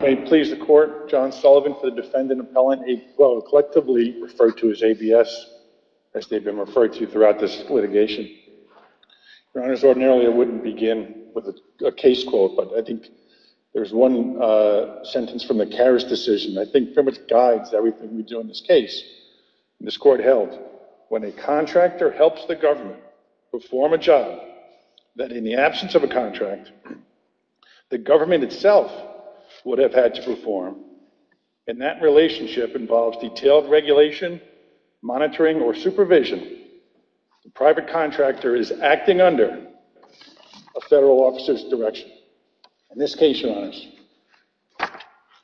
May it please the Court, John Sullivan for the Defendant Appellant, a quote collectively referred to as ABS, as they've been referred to throughout this litigation. Your Honors, ordinarily I wouldn't begin with a case quote, but I think there's one sentence from the Karras decision that I think pretty much guides everything we do in this case. This Court held, when a contractor helps the government perform a job, that in the absence of a contract, the government itself would have had to perform, and that relationship involves detailed regulation, monitoring, or supervision, the private contractor is acting under a federal officer's direction. In this case, Your Honors,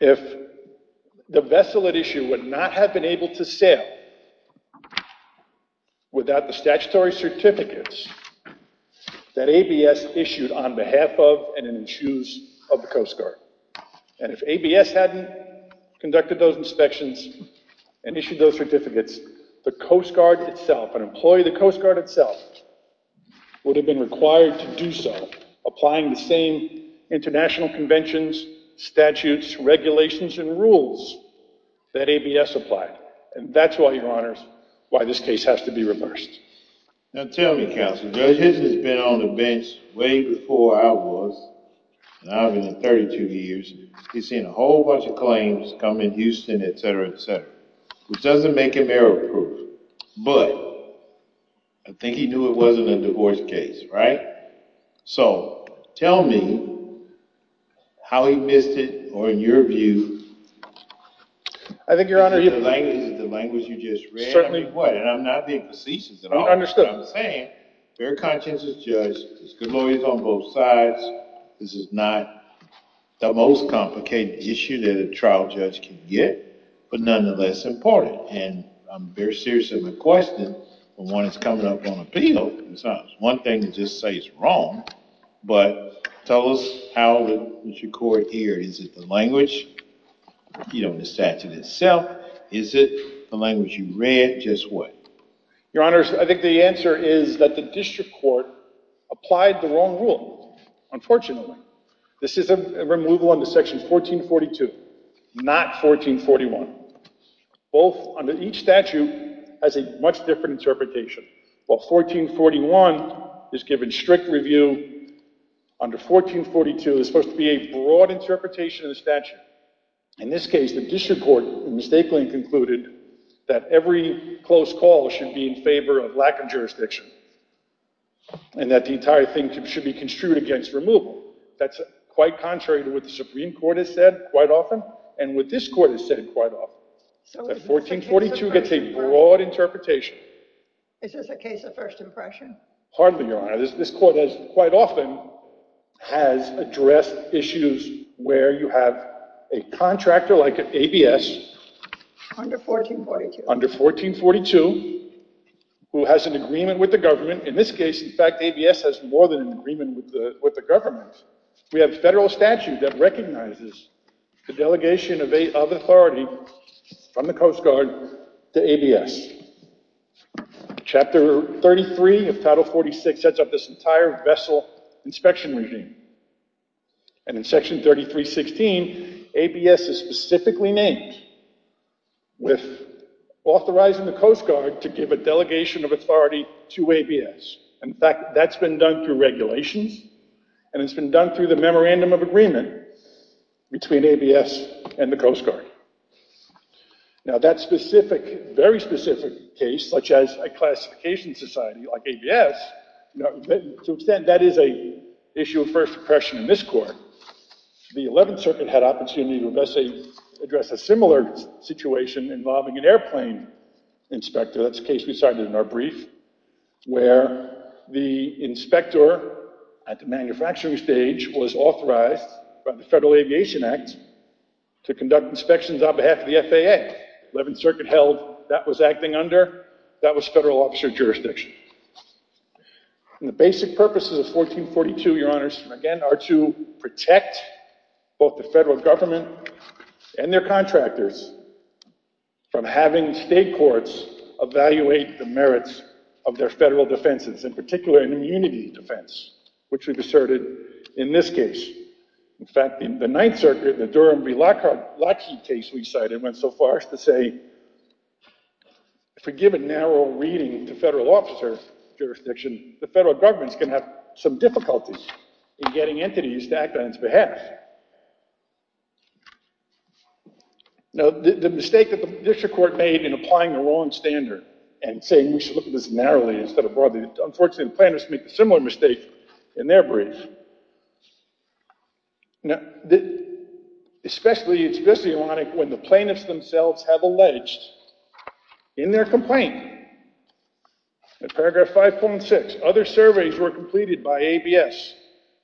if the vessel at issue would not have been able to sail without the statutory certificates that ABS issued on behalf of and in the shoes of the Coast Guard, and if ABS hadn't conducted those inspections and issued those certificates, the Coast Guard itself, an employee of the Coast Guard itself, would have been required to do so, applying the same international conventions, statutes, regulations, and rules that ABS applied. And that's why, Your Honors, why this case has to be reversed. Now tell me, Counselor, Judge Hitchens has been on the bench way before I was, and I've been in 32 years, he's seen a whole bunch of claims come in Houston, etc., etc., which doesn't make him error-proof, but I think he knew it wasn't a divorce case, right? So, tell me how he missed it, or in your view, in the language of the case? Is it the language you just read? And I'm not being facetious at all. I understand. But I'm saying, bear conscience as a judge, there's glories on both sides, this is not the most complicated issue that a trial judge can get, but nonetheless important. And I'm very seriously requesting that when it's coming up on appeal, it's not just one thing to just say it's wrong, but tell us how it was recorded here. Is it the language, you know, in the statute itself? Is it the language you read? Just what? Your Honors, I think the answer is that the district court applied the wrong rule, unfortunately. This is a removal under Section 1442, not 1441. Both under each statute has a much different interpretation. While 1441 is given strict review, under 1442 there's supposed to be a broad interpretation of the statute. In this case, the district court mistakenly concluded that every close call should be in favor of lack of jurisdiction, and that the entire thing should be construed against removal. That's quite contrary to what the Supreme Court has said quite often, and what this court has said quite often. That 1442 gets a broad interpretation. Is this a case of first impression? Hardly, Your Honor. This court has, quite often, has addressed issues where you have a contractor like ABS under 1442, who has an agreement with the government. In this case, in fact, ABS has more than an agreement with the government. We have a federal statute that recognizes the delegation of authority from the Coast Guard to ABS. Chapter 33 of Title 46 sets up this entire vessel inspection regime, and in Section 3316, ABS is specifically named with authorizing the Coast Guard to give a delegation of authority to ABS. In fact, that's been done through regulations, and it's been done through the memorandum of agreement between ABS and the Coast Guard. Now, that specific, very specific case, such as a classification society like ABS, to an extent, that is an issue of first impression in this court. The 11th Circuit had opportunity to address a similar situation involving an airplane inspector. That's a case we cited in our brief, where the inspector at the manufacturing stage was authorized by the Federal Aviation Act to conduct inspections on behalf of the FAA. The 11th Circuit held that was acting under federal officer jurisdiction. The basic purposes of 1442, Your Honors, again, are to protect both the federal government and their contractors from having state courts evaluate the merits of their federal defenses, in particular, an immunity defense, which we've asserted in this case. In fact, in the 9th Circuit, the Durham v. Lackey case we cited went so far as to say, if we give a narrow reading to federal officer jurisdiction, the federal government's going to have some difficulties in getting entities to act on its behalf. Now, the mistake that the district court made in applying the wrong standard and saying we should look at this narrowly instead of broadly, unfortunately, the plaintiffs make a similar mistake in their brief. Now, especially, it's ironic when the plaintiffs themselves have alleged in their complaint in paragraph 5.6, other surveys were completed by ABS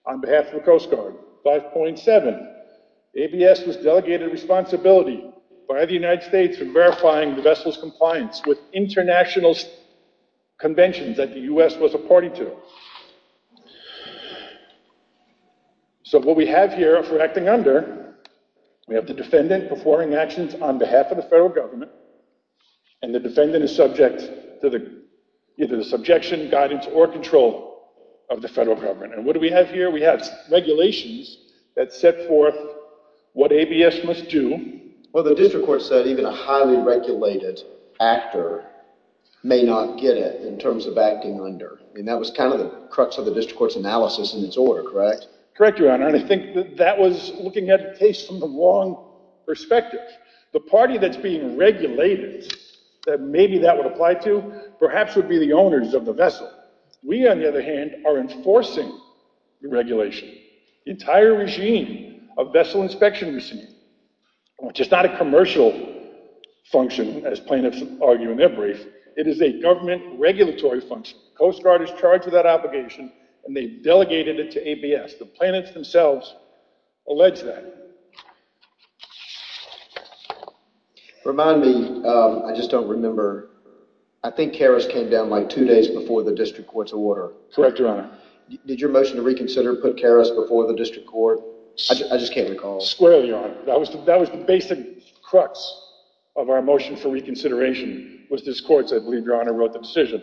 on behalf of the Coast Guard. 5.7, ABS was delegated responsibility by the United States for verifying the vessel's compliance with international conventions that the U.S. was a party to. So what we have here for acting under, we have the defendant performing actions on behalf of the federal government, and the defendant is subject to either the subjection, guidance, or control of the federal government. And what do we have here? We have regulations that set forth what ABS must do. Well, the district court said even a highly regulated actor may not get it in terms of acting under. I mean, that was kind of the crux of the district court's analysis in its order, correct? Correct, Your Honor. And I think that that was looking at the case from the wrong perspective. The party that's being regulated that maybe that would apply to perhaps would be the owners of the vessel. We, on the other hand, are enforcing the regulation. The entire regime of vessel inspection receipt, which is not a commercial function, as plaintiffs argue in their brief, it is a government regulatory function. Coast Guard is charged with that obligation, and they delegated it to ABS. The plaintiffs themselves allege that. Remind me, I just don't remember, I think Karras came down like two days before the district court's order. Correct, Your Honor. Did your motion to reconsider put Karras before the district court? I just can't recall. Squarely, Your Honor. That was the basic crux of our motion for reconsideration was this court's, I believe Your Honor wrote the decision,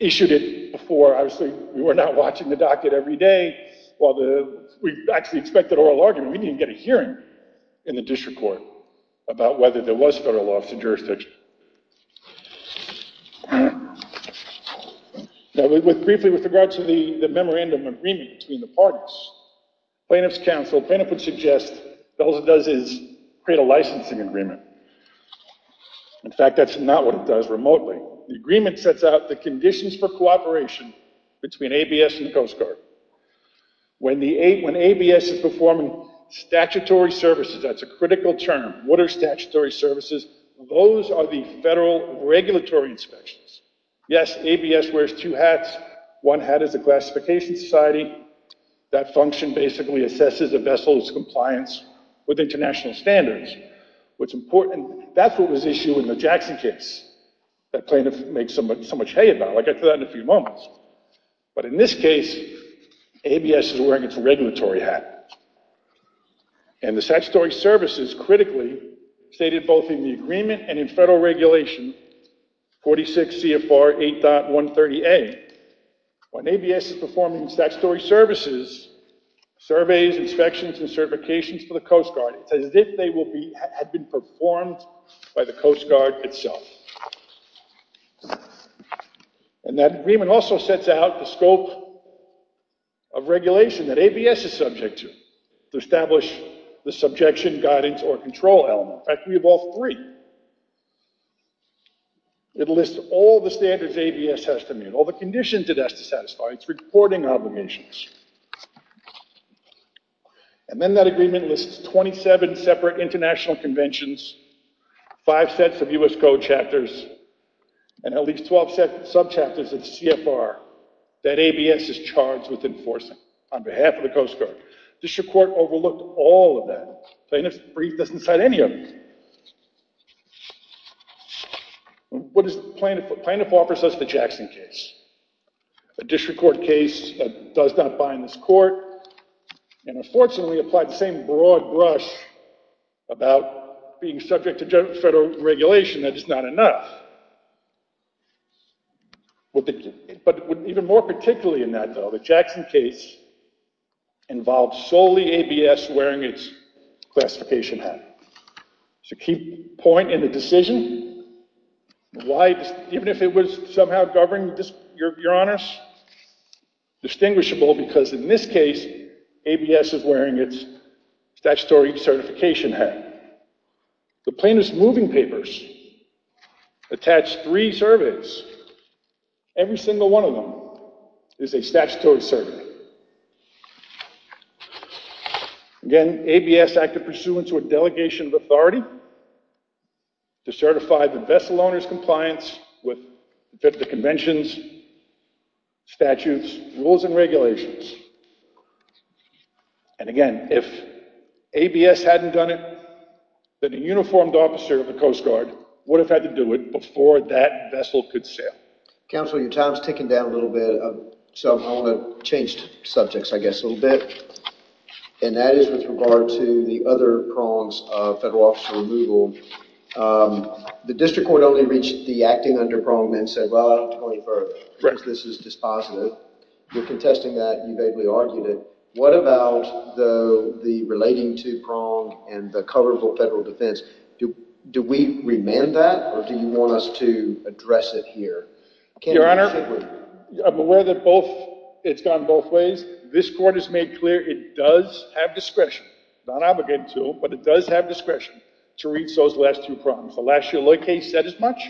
issued it before, obviously, we were not watching the docket every day while the, we actually expected oral argument, we didn't get a hearing in the district court about whether there was federal law in the jurisdiction. Briefly, with regards to the memorandum agreement between the parties, plaintiff's counsel, plaintiff would suggest all it does is create a licensing agreement. In fact, that's not what it does remotely. The agreement sets out the conditions for cooperation between ABS and the Coast Guard. When ABS is performing statutory services, that's a critical term, what are statutory services? Those are the federal regulatory inspections. Yes, ABS wears two hats. One hat is a classification society. That function basically assesses a vessel's compliance with international standards. What's important, that's what was issued in the Jackson case that plaintiff makes so much hay about. I'll get to that in a few moments. But in this case, ABS is wearing its regulatory hat. And the statutory services critically stated both in the agreement and in federal regulation, 46 CFR 8.130A. When ABS is performing statutory services, surveys, inspections, and certifications for the Coast Guard, it's as if they had been performed by the Coast Guard itself. And that agreement also sets out the scope of regulation that ABS is subject to, to establish the subjection, guidance, or control element. In fact, we have all three. It lists all the standards ABS has to meet, all the conditions it has to satisfy, its reporting obligations. And then that agreement lists 27 separate international conventions, five sets of U.S. Code chapters, and at least 12 subchapters of CFR that ABS is charged with enforcing on behalf of the Coast Guard. District Court overlooked all of that. Plaintiff's brief doesn't cite any of it. Plaintiff offers us the Jackson case, a district court case that does not bind this court, and unfortunately applied the same broad brush about being subject to federal regulation that it's not enough. But even more particularly in that, though, the Jackson case involves solely ABS wearing its classification hat. It's a key point in the decision. Why, even if it was somehow governed, Your Honors? Distinguishable because in this case, ABS is wearing its statutory certification hat. The plaintiff's moving papers attach three surveys. Every single one of them is a statutory survey. Again, ABS acted pursuant to a delegation of authority to certify the vessel owner's compliance with the conventions, statutes, rules, and regulations. And again, if ABS hadn't done it, then a uniformed officer of the Coast Guard would have had to do it before that vessel could sail. Counsel, your time is ticking down a little bit. So I want to change subjects, I guess, a little bit. And that is with regard to the other prongs of federal officer removal. The district court only reached the acting underprongment and said, well, out of 24, this is dispositive. You're contesting that. You vaguely argued it. What about the relating to prong and the cover for federal defense? Do we remand that? Or do you want us to address it here? Your Honor, I'm aware that it's gone both ways. This court has made clear it does have discretion. Not obligated to, but it does have discretion to reach those last two prongs. The last year lawyer case said as much,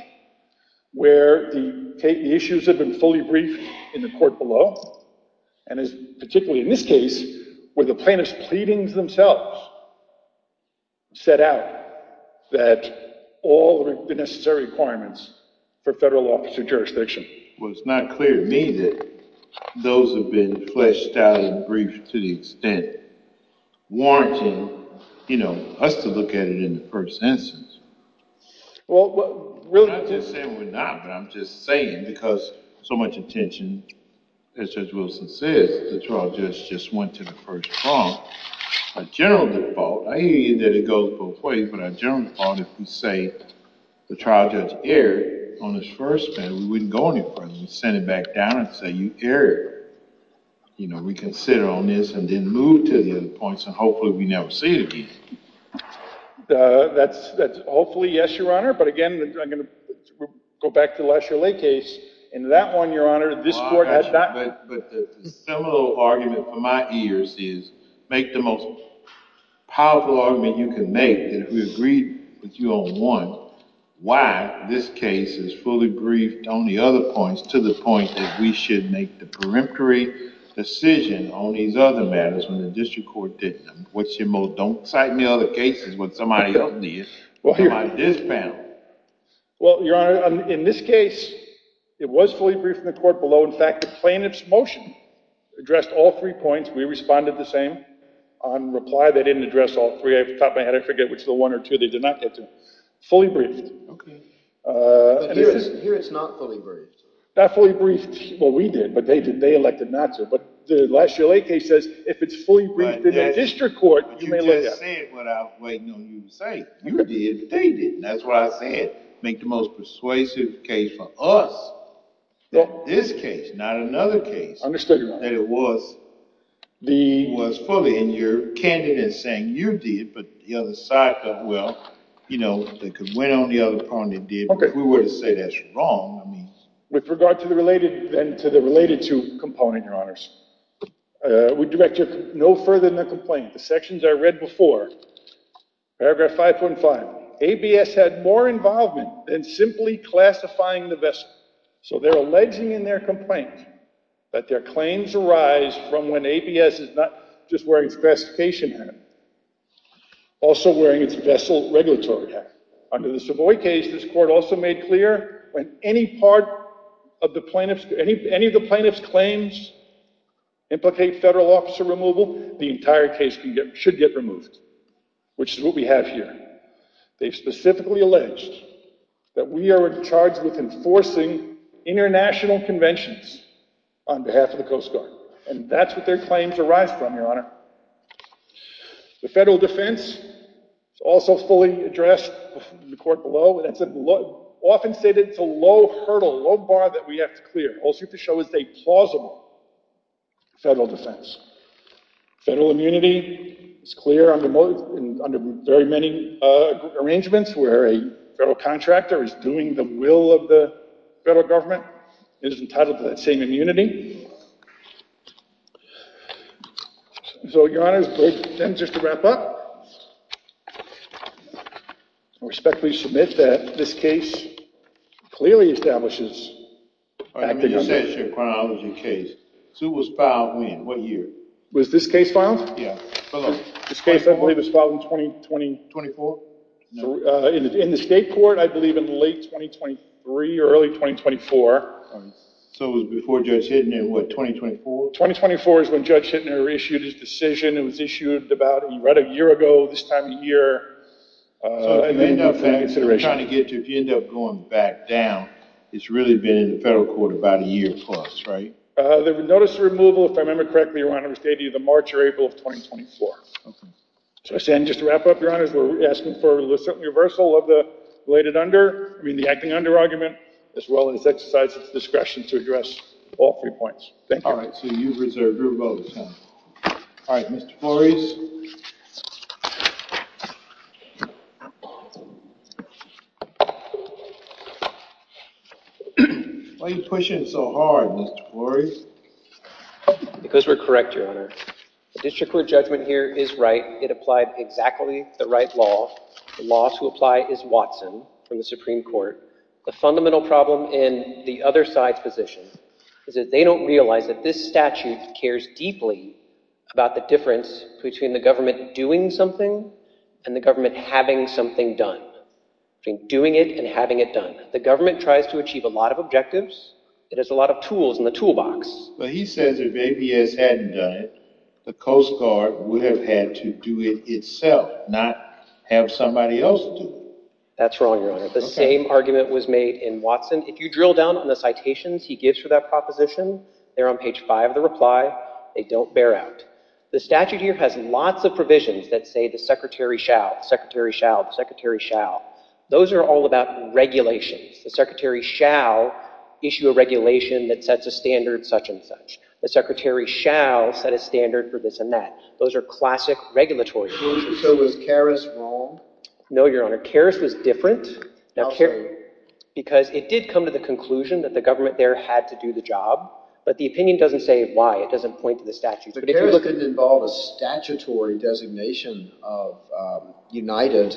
where the issues had been fully briefed in the court below, and particularly in this case, where the plaintiff's pleadings themselves set out that all the necessary requirements for federal officer jurisdiction. Well, it's not clear to me that those have been fleshed out and briefed to the extent warranting us to look at it in the first instance. Well, really, I'm not just saying we're not. But I'm just saying, because so much attention, as Judge Wilson says, the trial judge just went to the first prong. A general default, I hear you that it goes both ways. But a general default, if you say the trial judge erred on his first bend, we wouldn't go any further. We'd send it back down and say, you erred. We can sit on this and then move to the other points. And hopefully, we never see it again. Hopefully, yes, Your Honor. But again, I'm going to go back to the last year lay case. In that one, Your Honor, this court has not. But the similar argument for my ears is make the most powerful argument you can make. And if we agree with you on one, why this case is fully briefed on the other points to the point that we should make the peremptory decision on these other matters when the district court didn't? Don't cite any other cases when somebody else did. Somebody did panel. Well, Your Honor, in this case, it was fully briefed in the court below. In fact, the plaintiff's motion addressed all three points. We responded the same. On reply, they didn't address all three. At the top of my head, I forget which of the one or two they did not get to. Fully briefed. But here it's not fully briefed. Not fully briefed. Well, we did. But they elected not to. But the last year lay case says if it's fully briefed in the district court, you may let that. But you just said what I was waiting on you to say. You did. They didn't. That's what I said. Make the most persuasive case for us that this case, not another case, that it was fully. Your candidate is saying you did, but the other side thought, well, they could win on the other point they did. But if we were to say that's wrong, I mean. With regard to the related and to the related to component, Your Honors, we direct you no further than the complaint. The sections I read before, paragraph 5.5, ABS had more involvement than simply classifying the vessel. So they're alleging in their complaint that their claims arise from when ABS is not just wearing its classification hat, also wearing its vessel regulatory hat. Under the Savoy case, this court also made clear when any part of the plaintiff's, any of the plaintiff's claims implicate federal officer removal, the entire case should get removed. Which is what we have here. They've specifically alleged that we are in charge with enforcing international conventions on behalf of the Coast Guard. And that's what their claims arise from, Your Honor. The federal defense is also fully addressed in the court below. It's often stated it's a low hurdle, low bar that we have to clear, also to show it's a plausible federal defense. Federal immunity is clear under very many arrangements where a federal contractor is doing the will of the federal government, is entitled to that same immunity. So, Your Honors, then just to wrap up, I respectfully submit that this case clearly establishes... So it was filed when? What year? Was this case filed? Yeah. This case, I believe, was filed in 2020. 24? In the state court, I believe in late 2023 or early 2024. So it was before Judge Hittner in what, 2024? 2024 is when Judge Hittner issued his decision. It was issued about right a year ago, this time of year. So if you end up going back down, it's really been in the federal court about a year plus, right? The notice of removal, if I remember correctly, Your Honors, dated the March or April of 2024. Okay. So, again, just to wrap up, Your Honors, we're asking for a reversal of the related under, I mean, the acting under argument, as well as exercise its discretion to address all three points. Thank you. All right, so you've reserved your vote. All right, Mr. Flores? Why are you pushing so hard, Mr. Flores? Because we're correct, Your Honor. The district court judgment here is right. It applied exactly the right law. The law to apply is Watson from the Supreme Court. The fundamental problem in the other side's position is that they don't realize that this statute cares deeply about the difference between the government doing something and the government having something done. Between doing it and having it done. The government tries to achieve a lot of objectives. It has a lot of tools in the toolbox. But he says if ABS hadn't done it, the Coast Guard would have had to do it itself, not have somebody else do it. That's wrong, Your Honor. The same argument was made in Watson. If you drill down on the citations he gives for that proposition, they're on page 5 of the reply. They don't bear out. The statute here has lots of provisions that say the secretary shall, the secretary shall, the secretary shall. Those are all about regulations. The secretary shall issue a regulation that sets a standard such and such. The secretary shall set a standard for this and that. Those are classic regulatory provisions. So was Karras wrong? No, Your Honor. Karras was different because it did come to the conclusion that the government there had to do the job. But the opinion doesn't say why. It doesn't point to the statute. But Karras didn't involve a statutory designation of united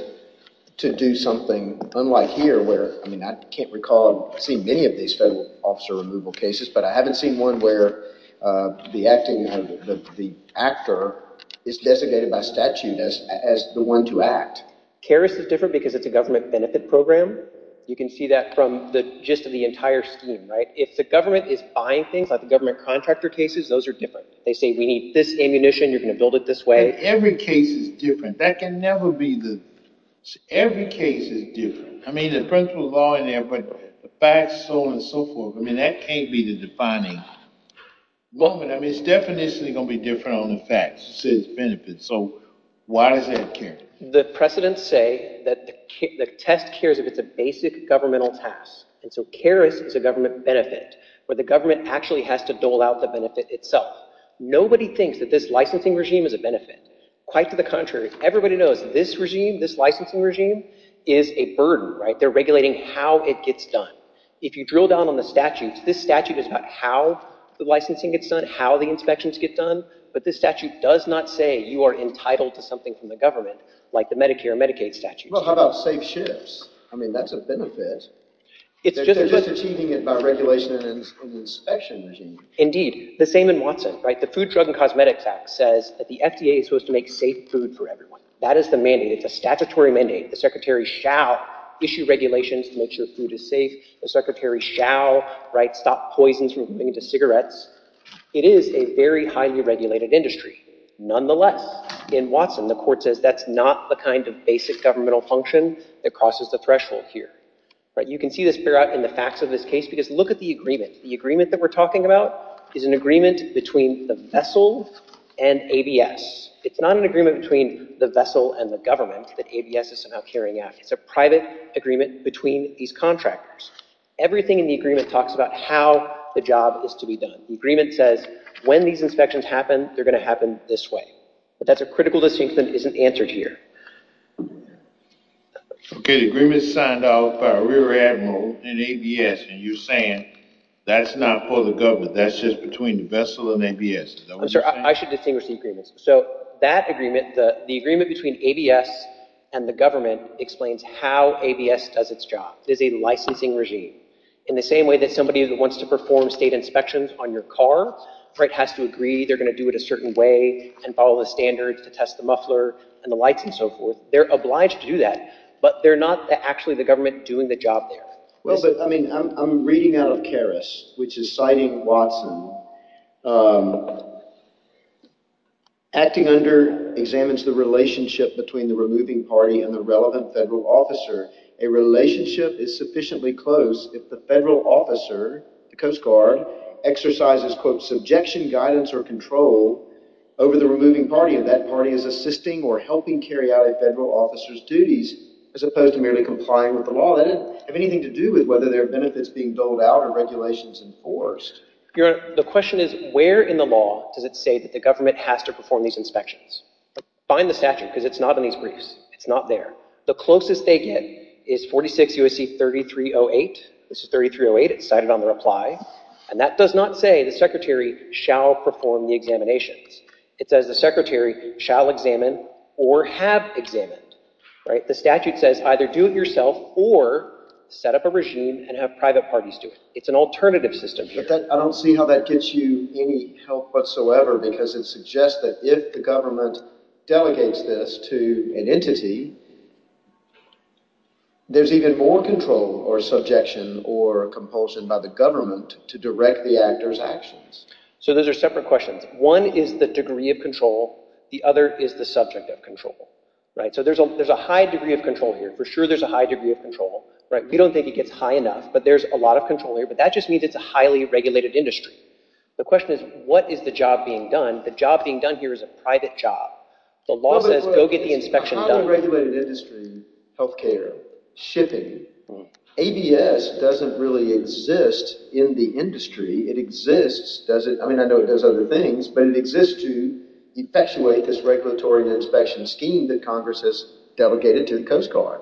to do something unlike here where – I mean I can't recall seeing many of these federal officer removal cases. But I haven't seen one where the acting – the actor is designated by statute as the one to act. Karras is different because it's a government benefit program. You can see that from the gist of the entire scheme. If the government is buying things like the government contractor cases, those are different. They say we need this ammunition. You're going to build it this way. Every case is different. That can never be the – every case is different. I mean the principle of law in there, but the facts, so on and so forth, I mean that can't be the defining moment. I mean it's definitely going to be different on the facts, benefits. So why does that care? The precedents say that the test cares if it's a basic governmental task. And so Karras is a government benefit where the government actually has to dole out the benefit itself. Nobody thinks that this licensing regime is a benefit. Quite to the contrary. Everybody knows this regime, this licensing regime is a burden. They're regulating how it gets done. If you drill down on the statutes, this statute is about how the licensing gets done, how the inspections get done. But this statute does not say you are entitled to something from the government like the Medicare and Medicaid statutes. Well, how about safe ships? I mean that's a benefit. They're just achieving it by regulation and inspection regime. Indeed, the same in Watson. The Food, Drug, and Cosmetics Act says that the FDA is supposed to make safe food for everyone. That is the mandate. It's a statutory mandate. The secretary shall issue regulations to make sure food is safe. The secretary shall stop poisons from moving into cigarettes. It is a very highly regulated industry. Nonetheless, in Watson, the court says that's not the kind of basic governmental function that crosses the threshold here. You can see this in the facts of this case because look at the agreement. The agreement that we're talking about is an agreement between the vessel and ABS. It's not an agreement between the vessel and the government that ABS is somehow carrying out. It's a private agreement between these contractors. Everything in the agreement talks about how the job is to be done. The agreement says when these inspections happen, they're going to happen this way. But that's a critical distinction that isn't answered here. Okay, the agreement is signed off by a rear admiral and ABS, and you're saying that's not for the government. That's just between the vessel and ABS. I'm sorry. I should distinguish the agreements. So that agreement, the agreement between ABS and the government, explains how ABS does its job. It is a licensing regime. In the same way that somebody that wants to perform state inspections on your car has to agree they're going to do it a certain way and follow the standards to test the muffler and the lights and so forth, they're obliged to do that. But they're not actually the government doing the job there. Well, but I mean I'm reading out of Karras, which is citing Watson. Acting under examines the relationship between the removing party and the relevant federal officer. A relationship is sufficiently close if the federal officer, the Coast Guard, exercises, quote, subjection, guidance, or control over the removing party. And that party is assisting or helping carry out a federal officer's duties as opposed to merely complying with the law. That doesn't have anything to do with whether there are benefits being doled out or regulations enforced. Your Honor, the question is where in the law does it say that the government has to perform these inspections? Find the statute because it's not in these briefs. It's not there. The closest they get is 46 U.S.C. 3308. This is 3308. It's cited on the reply. And that does not say the secretary shall perform the examinations. It says the secretary shall examine or have examined. The statute says either do it yourself or set up a regime and have private parties do it. It's an alternative system here. I don't see how that gets you any help whatsoever because it suggests that if the government delegates this to an entity, there's even more control or subjection or compulsion by the government to direct the actor's actions. So those are separate questions. One is the degree of control. The other is the subject of control. So there's a high degree of control here. For sure there's a high degree of control. We don't think it gets high enough, but there's a lot of control here. But that just means it's a highly regulated industry. The question is what is the job being done? The job being done here is a private job. The law says go get the inspection done. It's highly regulated industry, health care, shipping. ABS doesn't really exist in the industry. It exists – I mean I know it does other things, but it exists to effectuate this regulatory inspection scheme that Congress has delegated to the Coast Guard.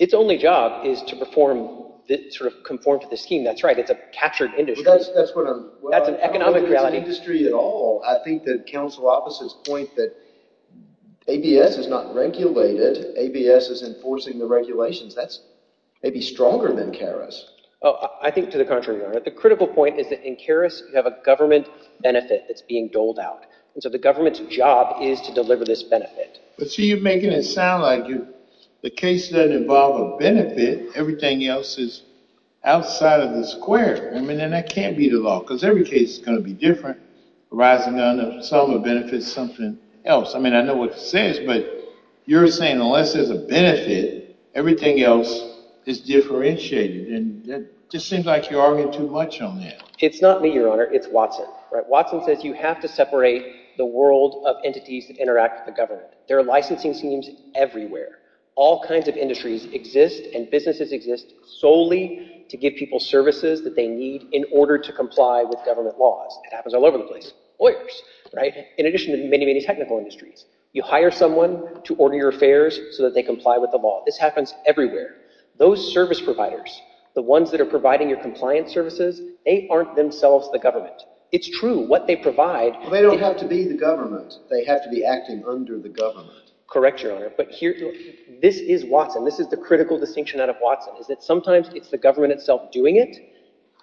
Its only job is to perform – sort of conform to the scheme. That's right. It's a captured industry. That's what I'm – That's an economic reality. I don't think it's an industry at all. I think that counsel officers point that ABS is not regulated. ABS is enforcing the regulations. That's maybe stronger than CARES. I think to the contrary, Your Honor. The critical point is that in CARES, you have a government benefit that's being doled out. And so the government's job is to deliver this benefit. But see, you're making it sound like the case doesn't involve a benefit. Everything else is outside of the square. I mean then that can't be the law because every case is going to be different arising out of some of the benefits of something else. I mean I know what it says, but you're saying unless there's a benefit, everything else is differentiated. And it just seems like you're arguing too much on that. It's not me, Your Honor. It's Watson. Watson says you have to separate the world of entities that interact with the government. There are licensing schemes everywhere. All kinds of industries exist and businesses exist solely to give people services that they need in order to comply with government laws. It happens all over the place. Lawyers, in addition to many, many technical industries. You hire someone to order your affairs so that they comply with the law. This happens everywhere. Those service providers, the ones that are providing your compliance services, they aren't themselves the government. It's true. What they provide— They don't have to be the government. They have to be acting under the government. Correct, Your Honor. But this is Watson. This is the critical distinction out of Watson is that sometimes it's the government itself doing it,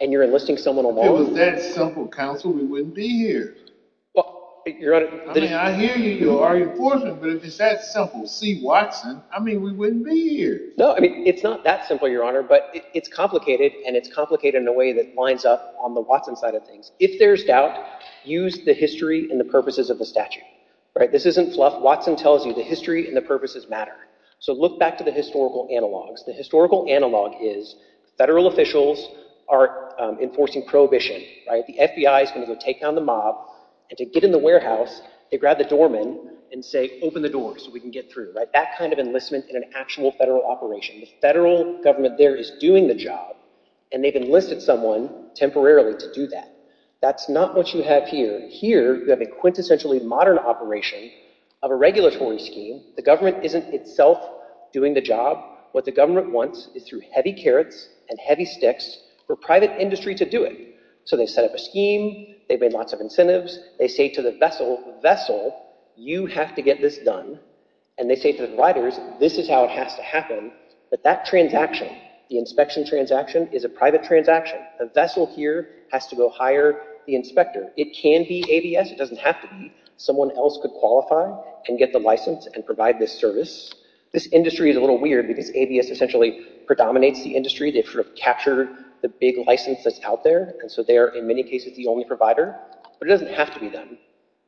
and you're enlisting someone along. If it was that simple, counsel, we wouldn't be here. Well, Your Honor— I mean I hear you. You're arguing for me. But if it's that simple, see Watson, I mean we wouldn't be here. No, I mean it's not that simple, Your Honor, but it's complicated, and it's complicated in a way that lines up on the Watson side of things. If there's doubt, use the history and the purposes of the statute. This isn't fluff. Watson tells you the history and the purposes matter. So look back to the historical analogs. The historical analog is federal officials are enforcing prohibition. The FBI is going to go take down the mob, and to get in the warehouse, they grab the doorman and say, open the door so we can get through. That kind of enlistment in an actual federal operation. The federal government there is doing the job, and they've enlisted someone temporarily to do that. That's not what you have here. Here you have a quintessentially modern operation of a regulatory scheme. The government isn't itself doing the job. What the government wants is through heavy carrots and heavy sticks for private industry to do it. So they set up a scheme. They've made lots of incentives. They say to the vessel, vessel, you have to get this done. And they say to the providers, this is how it has to happen. But that transaction, the inspection transaction, is a private transaction. The vessel here has to go hire the inspector. It can be ABS. It doesn't have to be. Someone else could qualify and get the license and provide this service. This industry is a little weird because ABS essentially predominates the industry. They've sort of captured the big license that's out there. And so they are, in many cases, the only provider. But it doesn't have to be them.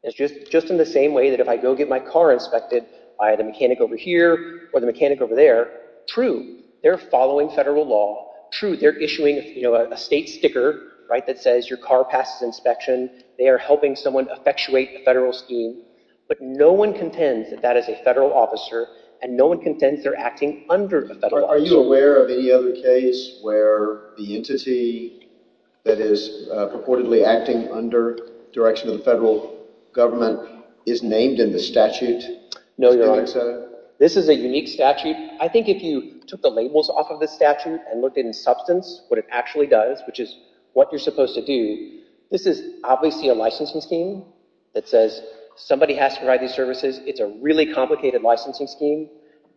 It's just in the same way that if I go get my car inspected by the mechanic over here or the mechanic over there. True, they're following federal law. True, they're issuing a state sticker that says your car passes inspection. They are helping someone effectuate a federal scheme. But no one contends that that is a federal officer, and no one contends they're acting under a federal officer. Are you aware of any other case where the entity that is purportedly acting under direction of the federal government is named in the statute? No, Your Honor. This is a unique statute. I think if you took the labels off of the statute and looked at it in substance, what it actually does, which is what you're supposed to do, this is obviously a licensing scheme that says somebody has to provide these services. It's a really complicated licensing scheme.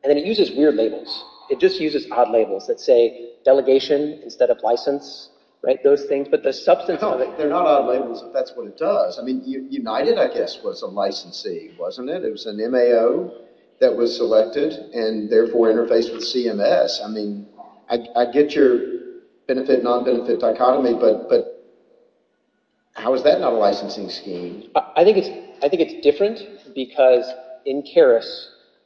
And then it uses weird labels. It just uses odd labels that say delegation instead of license, right, those things. But the substance of it… No, they're not odd labels if that's what it does. I mean, United, I guess, was a licensee, wasn't it? It was an MAO that was selected and therefore interfaced with CMS. I mean, I get your benefit-nonbenefit dichotomy, but how is that not a licensing scheme? I think it's different because in Karras,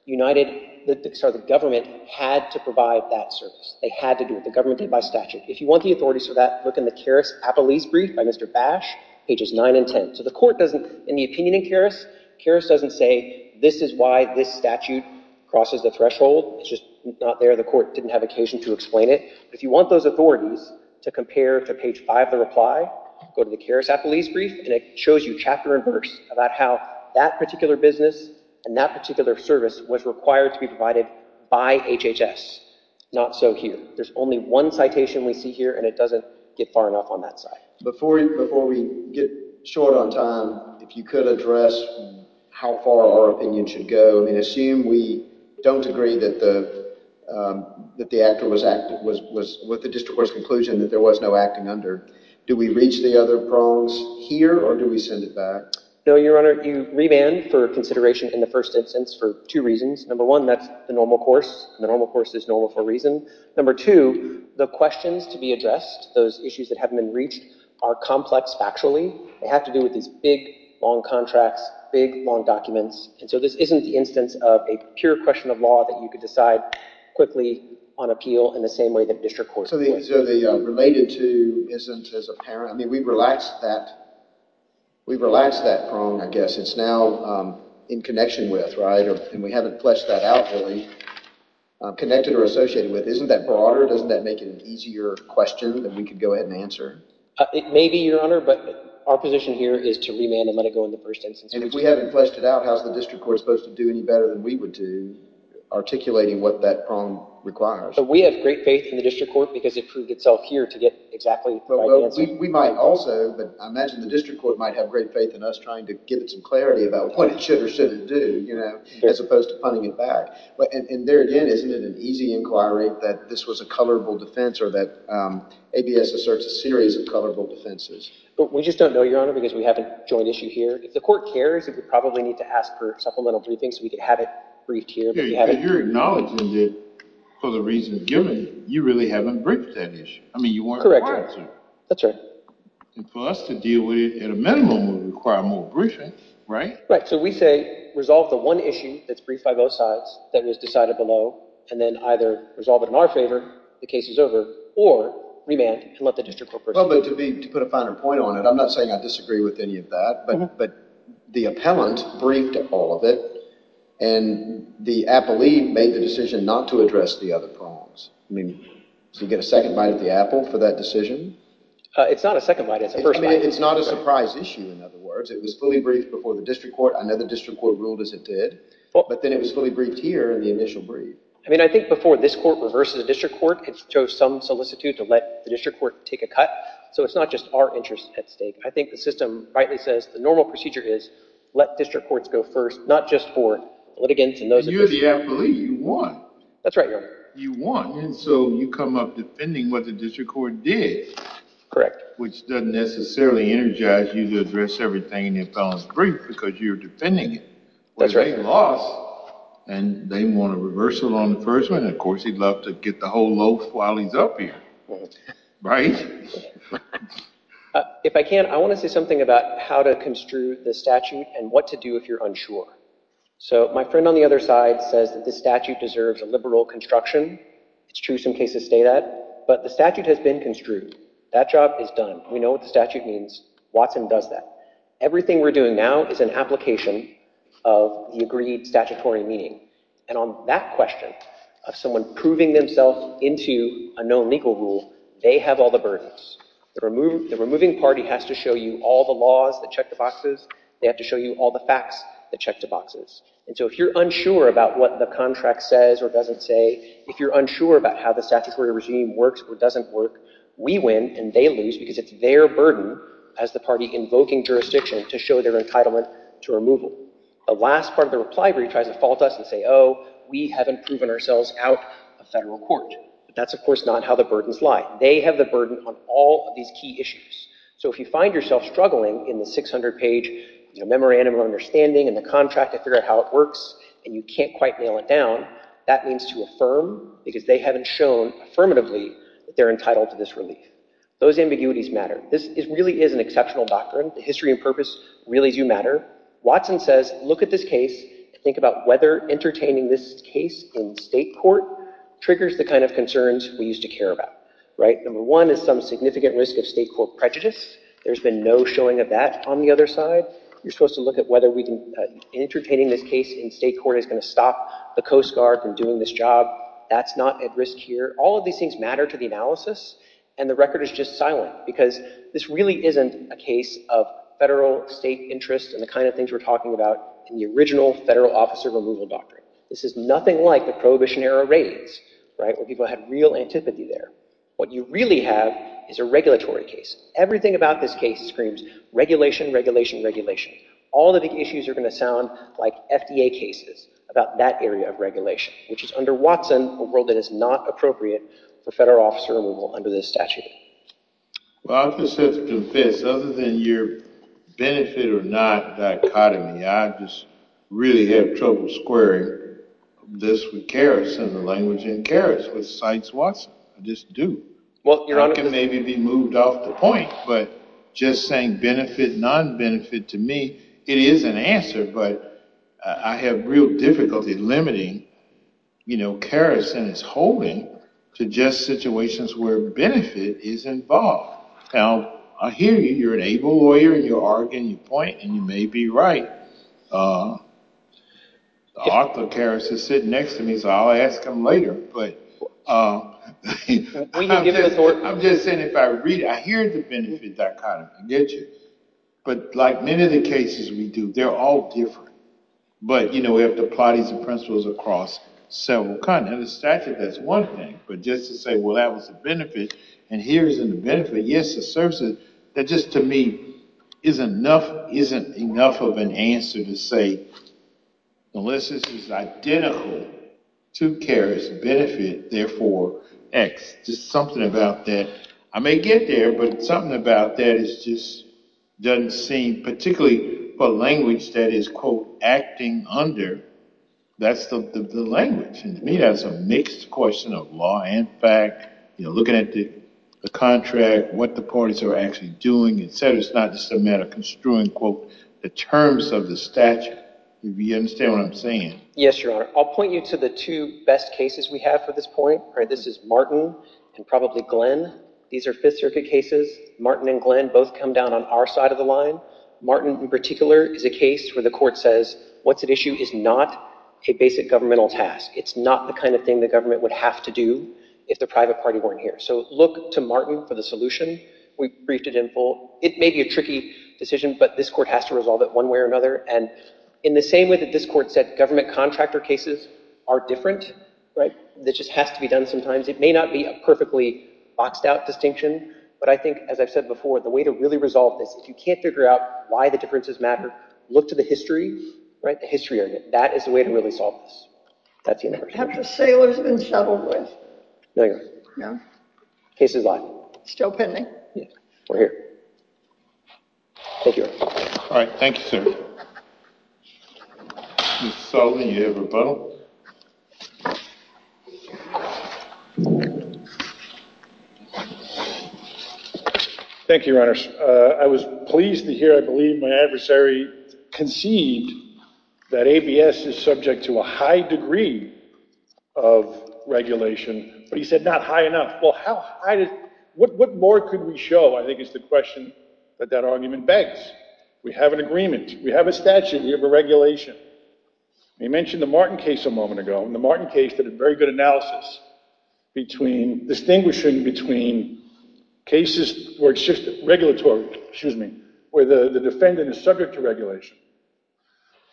United, sorry, the government had to provide that service. They had to do it. The government did it by statute. If you want the authorities for that, look in the Karras appellees' brief by Mr. Bash, pages 9 and 10. So the court doesn't, in the opinion in Karras, Karras doesn't say this is why this statute crosses the threshold. It's just not there. The court didn't have occasion to explain it. If you want those authorities to compare to page 5 of the reply, go to the Karras appellees' brief, and it shows you chapter and verse about how that particular business and that particular service was required to be provided by HHS. Not so here. There's only one citation we see here, and it doesn't get far enough on that side. Before we get short on time, if you could address how far our opinion should go. I mean, assume we don't agree that the actor was with the district court's conclusion that there was no acting under. Do we reach the other prongs here, or do we send it back? No, Your Honor. You remand for consideration in the first instance for two reasons. Number one, that's the normal course, and the normal course is normal for a reason. Number two, the questions to be addressed, those issues that haven't been reached, are complex factually. They have to do with these big, long contracts, big, long documents. And so this isn't the instance of a pure question of law that you could decide quickly on appeal in the same way that district courts would. So the related to isn't as apparent? I mean, we've relaxed that prong, I guess. It's now in connection with, right? And we haven't fleshed that out really, connected or associated with. Isn't that broader? Doesn't that make it an easier question that we could go ahead and answer? It may be, Your Honor, but our position here is to remand and let it go in the first instance. And if we haven't fleshed it out, how is the district court supposed to do any better than we would do, articulating what that prong requires? So we have great faith in the district court because it proved itself here to get exactly the right answer. We might also, but I imagine the district court might have great faith in us trying to give it some clarity about what it should or shouldn't do as opposed to punting it back. And there again, isn't it an easy inquiry that this was a colorable defense or that ABS asserts a series of colorable defenses? We just don't know, Your Honor, because we have a joint issue here. If the court cares, it would probably need to ask for supplemental briefings so we could have it briefed here. You're acknowledging that for the reasons given, you really haven't briefed that issue. I mean, you weren't required to. That's right. For us to deal with it at a minimum would require more briefing, right? Right. So we say resolve the one issue that's briefed by both sides that was decided below and then either resolve it in our favor, the case is over, or remand and let the district court proceed. Well, but to put a finer point on it, I'm not saying I disagree with any of that, but the appellant briefed all of it, and the appellee made the decision not to address the other problems. I mean, do you get a second bite of the apple for that decision? It's not a second bite. It's a first bite. I mean, it's not a surprise issue, in other words. It was fully briefed before the district court. I know the district court ruled as it did, but then it was fully briefed here in the initial brief. I mean, I think before this court reversed the district court, it chose some solicitude to let the district court take a cut, so it's not just our interest at stake. I think the system rightly says the normal procedure is let district courts go first, not just for litigants and those officials. You're the appellee. You won. That's right, Your Honor. You won, and so you come up defending what the district court did, which doesn't necessarily energize you to address everything in the appellant's brief because you're defending it. That's right. And they want a reversal on the first one. Of course, he'd love to get the whole loaf while he's up here, right? If I can, I want to say something about how to construe the statute and what to do if you're unsure. So my friend on the other side says that the statute deserves a liberal construction. It's true some cases say that, but the statute has been construed. That job is done. We know what the statute means. Watson does that. Everything we're doing now is an application of the agreed statutory meaning. And on that question of someone proving themselves into a no legal rule, they have all the burdens. The removing party has to show you all the laws that check the boxes. They have to show you all the facts that check the boxes. And so if you're unsure about what the contract says or doesn't say, if you're unsure about how the statutory regime works or doesn't work, we win and they lose because it's their burden, as the party invoking jurisdiction, to show their entitlement to removal. The last part of the reply brief tries to fault us and say, oh, we haven't proven ourselves out of federal court. But that's, of course, not how the burdens lie. They have the burden on all of these key issues. So if you find yourself struggling in the 600-page memorandum of understanding and the contract to figure out how it works and you can't quite nail it down, that means to affirm because they haven't shown affirmatively that they're entitled to this relief. Those ambiguities matter. This really is an exceptional doctrine. The history and purpose really do matter. Watson says, look at this case and think about whether entertaining this case in state court triggers the kind of concerns we used to care about. Number one is some significant risk of state court prejudice. There's been no showing of that on the other side. You're supposed to look at whether entertaining this case in state court is going to stop the Coast Guard from doing this job. That's not at risk here. All of these things matter to the analysis. And the record is just silent because this really isn't a case of federal state interest and the kind of things we're talking about in the original federal officer removal doctrine. This is nothing like the Prohibition-era raids, right, where people had real antipathy there. What you really have is a regulatory case. Everything about this case screams regulation, regulation, regulation. All of the issues are going to sound like FDA cases about that area of regulation, which is under Watson a world that is not appropriate for federal officer removal under this statute. Well, I just have to confess, other than your benefit or not dichotomy, I just really have trouble squaring this with Karras and the language in Karras with Sykes-Watson. I just do. I can maybe be moved off the point, but just saying benefit, non-benefit to me, it is an answer. But I have real difficulty limiting Karras and his holding to just situations where benefit is involved. Now, I hear you. You're an able lawyer, and you argue, and you point, and you may be right. Arthur Karras is sitting next to me, so I'll ask him later. But I'm just saying, if I read it, I hear the benefit dichotomy. I get you. But like many of the cases we do, they're all different. But we have to apply these principles across several kinds. Under the statute, that's one thing. But just to say, well, that was a benefit, and here is a benefit. That just, to me, isn't enough of an answer to say, unless this is identical to Karras, benefit, therefore, x. Just something about that. I may get there, but something about that just doesn't seem, particularly for a language that is, quote, acting under. That's the language. And to me, that's a mixed question of law and fact. Looking at the contract, what the parties are actually doing, et cetera. It's not just a matter of construing, quote, the terms of the statute. Do you understand what I'm saying? Yes, Your Honor. I'll point you to the two best cases we have for this point. This is Martin and probably Glenn. These are Fifth Circuit cases. Martin and Glenn both come down on our side of the line. Martin, in particular, is a case where the court says, what's at issue is not a basic governmental task. It's not the kind of thing the government would have to do if the private party weren't here. So look to Martin for the solution. We briefed it in full. It may be a tricky decision, but this court has to resolve it one way or another. And in the same way that this court said government contractor cases are different, that just has to be done sometimes. It may not be a perfectly boxed out distinction, but I think, as I've said before, the way to really resolve this, if you can't figure out why the differences matter, look to the history, the history of it. That is the way to really solve this. Have the sailors been settled with? No, Your Honor. No? Case is live. Still pending? Yes. We're here. Thank you, Your Honor. All right. Thank you, sir. Ms. Sullivan, you have a vote. Thank you, Your Honor. I was pleased to hear, I believe, my adversary conceived that ABS is subject to a high degree of regulation, but he said not high enough. Well, how high? What more could we show, I think, is the question that that argument begs. We have an agreement. We have a statute. We have a regulation. You mentioned the Martin case a moment ago, and the Martin case did a very good analysis distinguishing between cases where the defendant is subject to regulation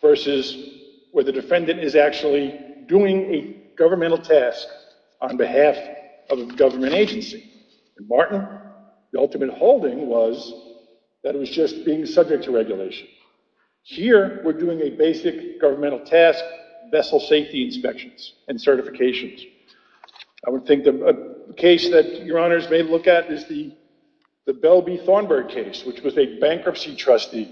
versus where the defendant is actually doing a governmental task on behalf of a government agency. In Martin, the ultimate holding was that it was just being subject to regulation. Here, we're doing a basic governmental task, vessel safety inspections and certifications. I would think a case that Your Honors may look at is the Bell v. Thornburg case, which was a bankruptcy trustee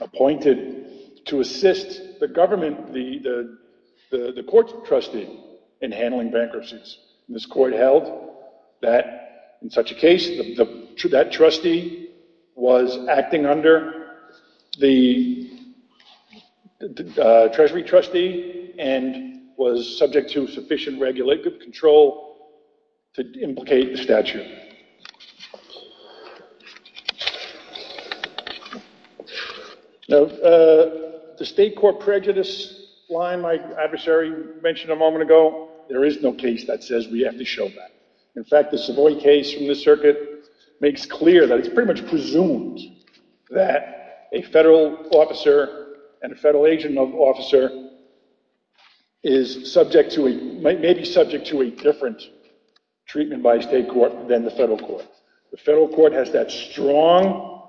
appointed to assist the government, the court's trustee, in handling bankruptcies. This court held that in such a case, that trustee was acting under the treasury trustee and was subject to sufficient regulatory control to implicate the statute. The state court prejudice line my adversary mentioned a moment ago, there is no case that says we have to show that. In fact, the Savoy case from the circuit makes clear that it's pretty much presumed that a federal officer and a federal agent officer may be subject to a different treatment by a state court than the federal court. The federal court has that strong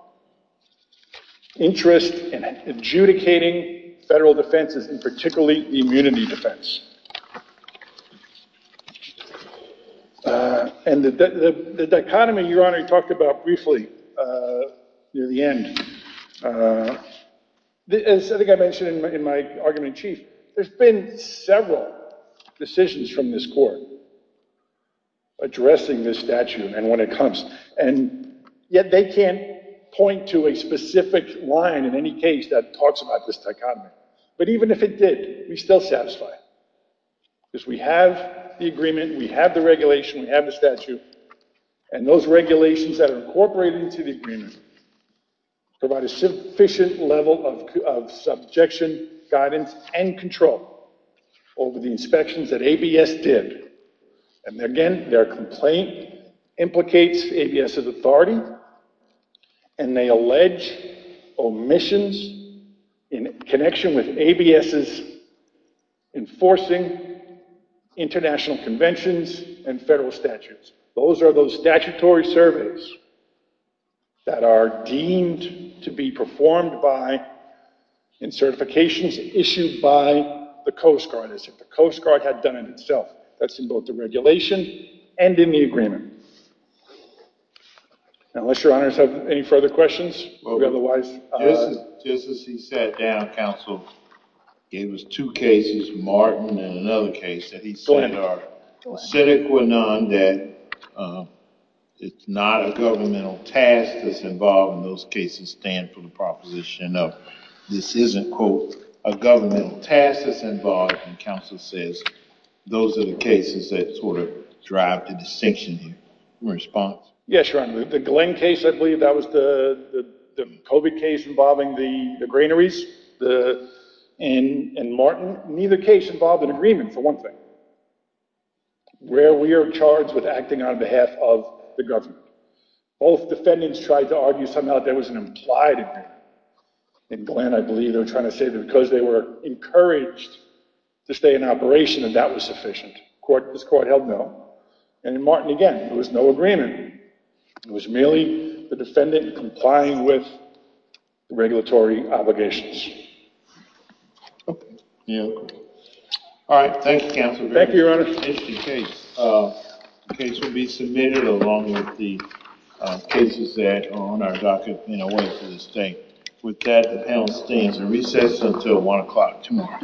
interest in adjudicating federal defenses, and particularly immunity defense. And the dichotomy Your Honor talked about briefly, near the end, as I think I mentioned in my argument in chief, there's been several decisions from this court addressing this statute and when it comes, and yet they can't point to a specific line in any case that talks about this dichotomy. But even if it did, we still satisfy. Because we have the agreement, we have the regulation, we have the statute, and those regulations that are incorporated into the agreement provide a sufficient level of subjection, guidance, and control over the inspections that ABS did. And again, their complaint implicates ABS's authority, and they allege omissions in connection with ABS's enforcing international conventions and federal statutes. Those are those statutory surveys that are deemed to be performed in certifications issued by the Coast Guard, as if the Coast Guard had done it itself. That's in both the regulation and in the agreement. Unless Your Honors have any further questions? Just as he sat down, counsel gave us two cases, Martin and another case, that he said are acidic or none, that it's not a governmental task that's involved, and those cases stand for the proposition of this isn't, quote, a governmental task that's involved. And counsel says those are the cases that sort of drive the distinction here. Yes, Your Honor. The Glenn case, I believe that was the COVID case involving the granaries, and Martin, neither case involved an agreement, for one thing, where we are charged with acting on behalf of the government. Both defendants tried to argue somehow that there was an implied agreement. In Glenn, I believe, they're trying to say that because they were encouraged to stay in operation, that that was sufficient. This court held no. And in Martin, again, there was no agreement. It was merely the defendant complying with regulatory obligations. All right. Thank you, counsel. Thank you, Your Honor. The case will be submitted along with the cases that are on our docket in a way for this day. With that, the panel stands and recess until 1 o'clock tomorrow.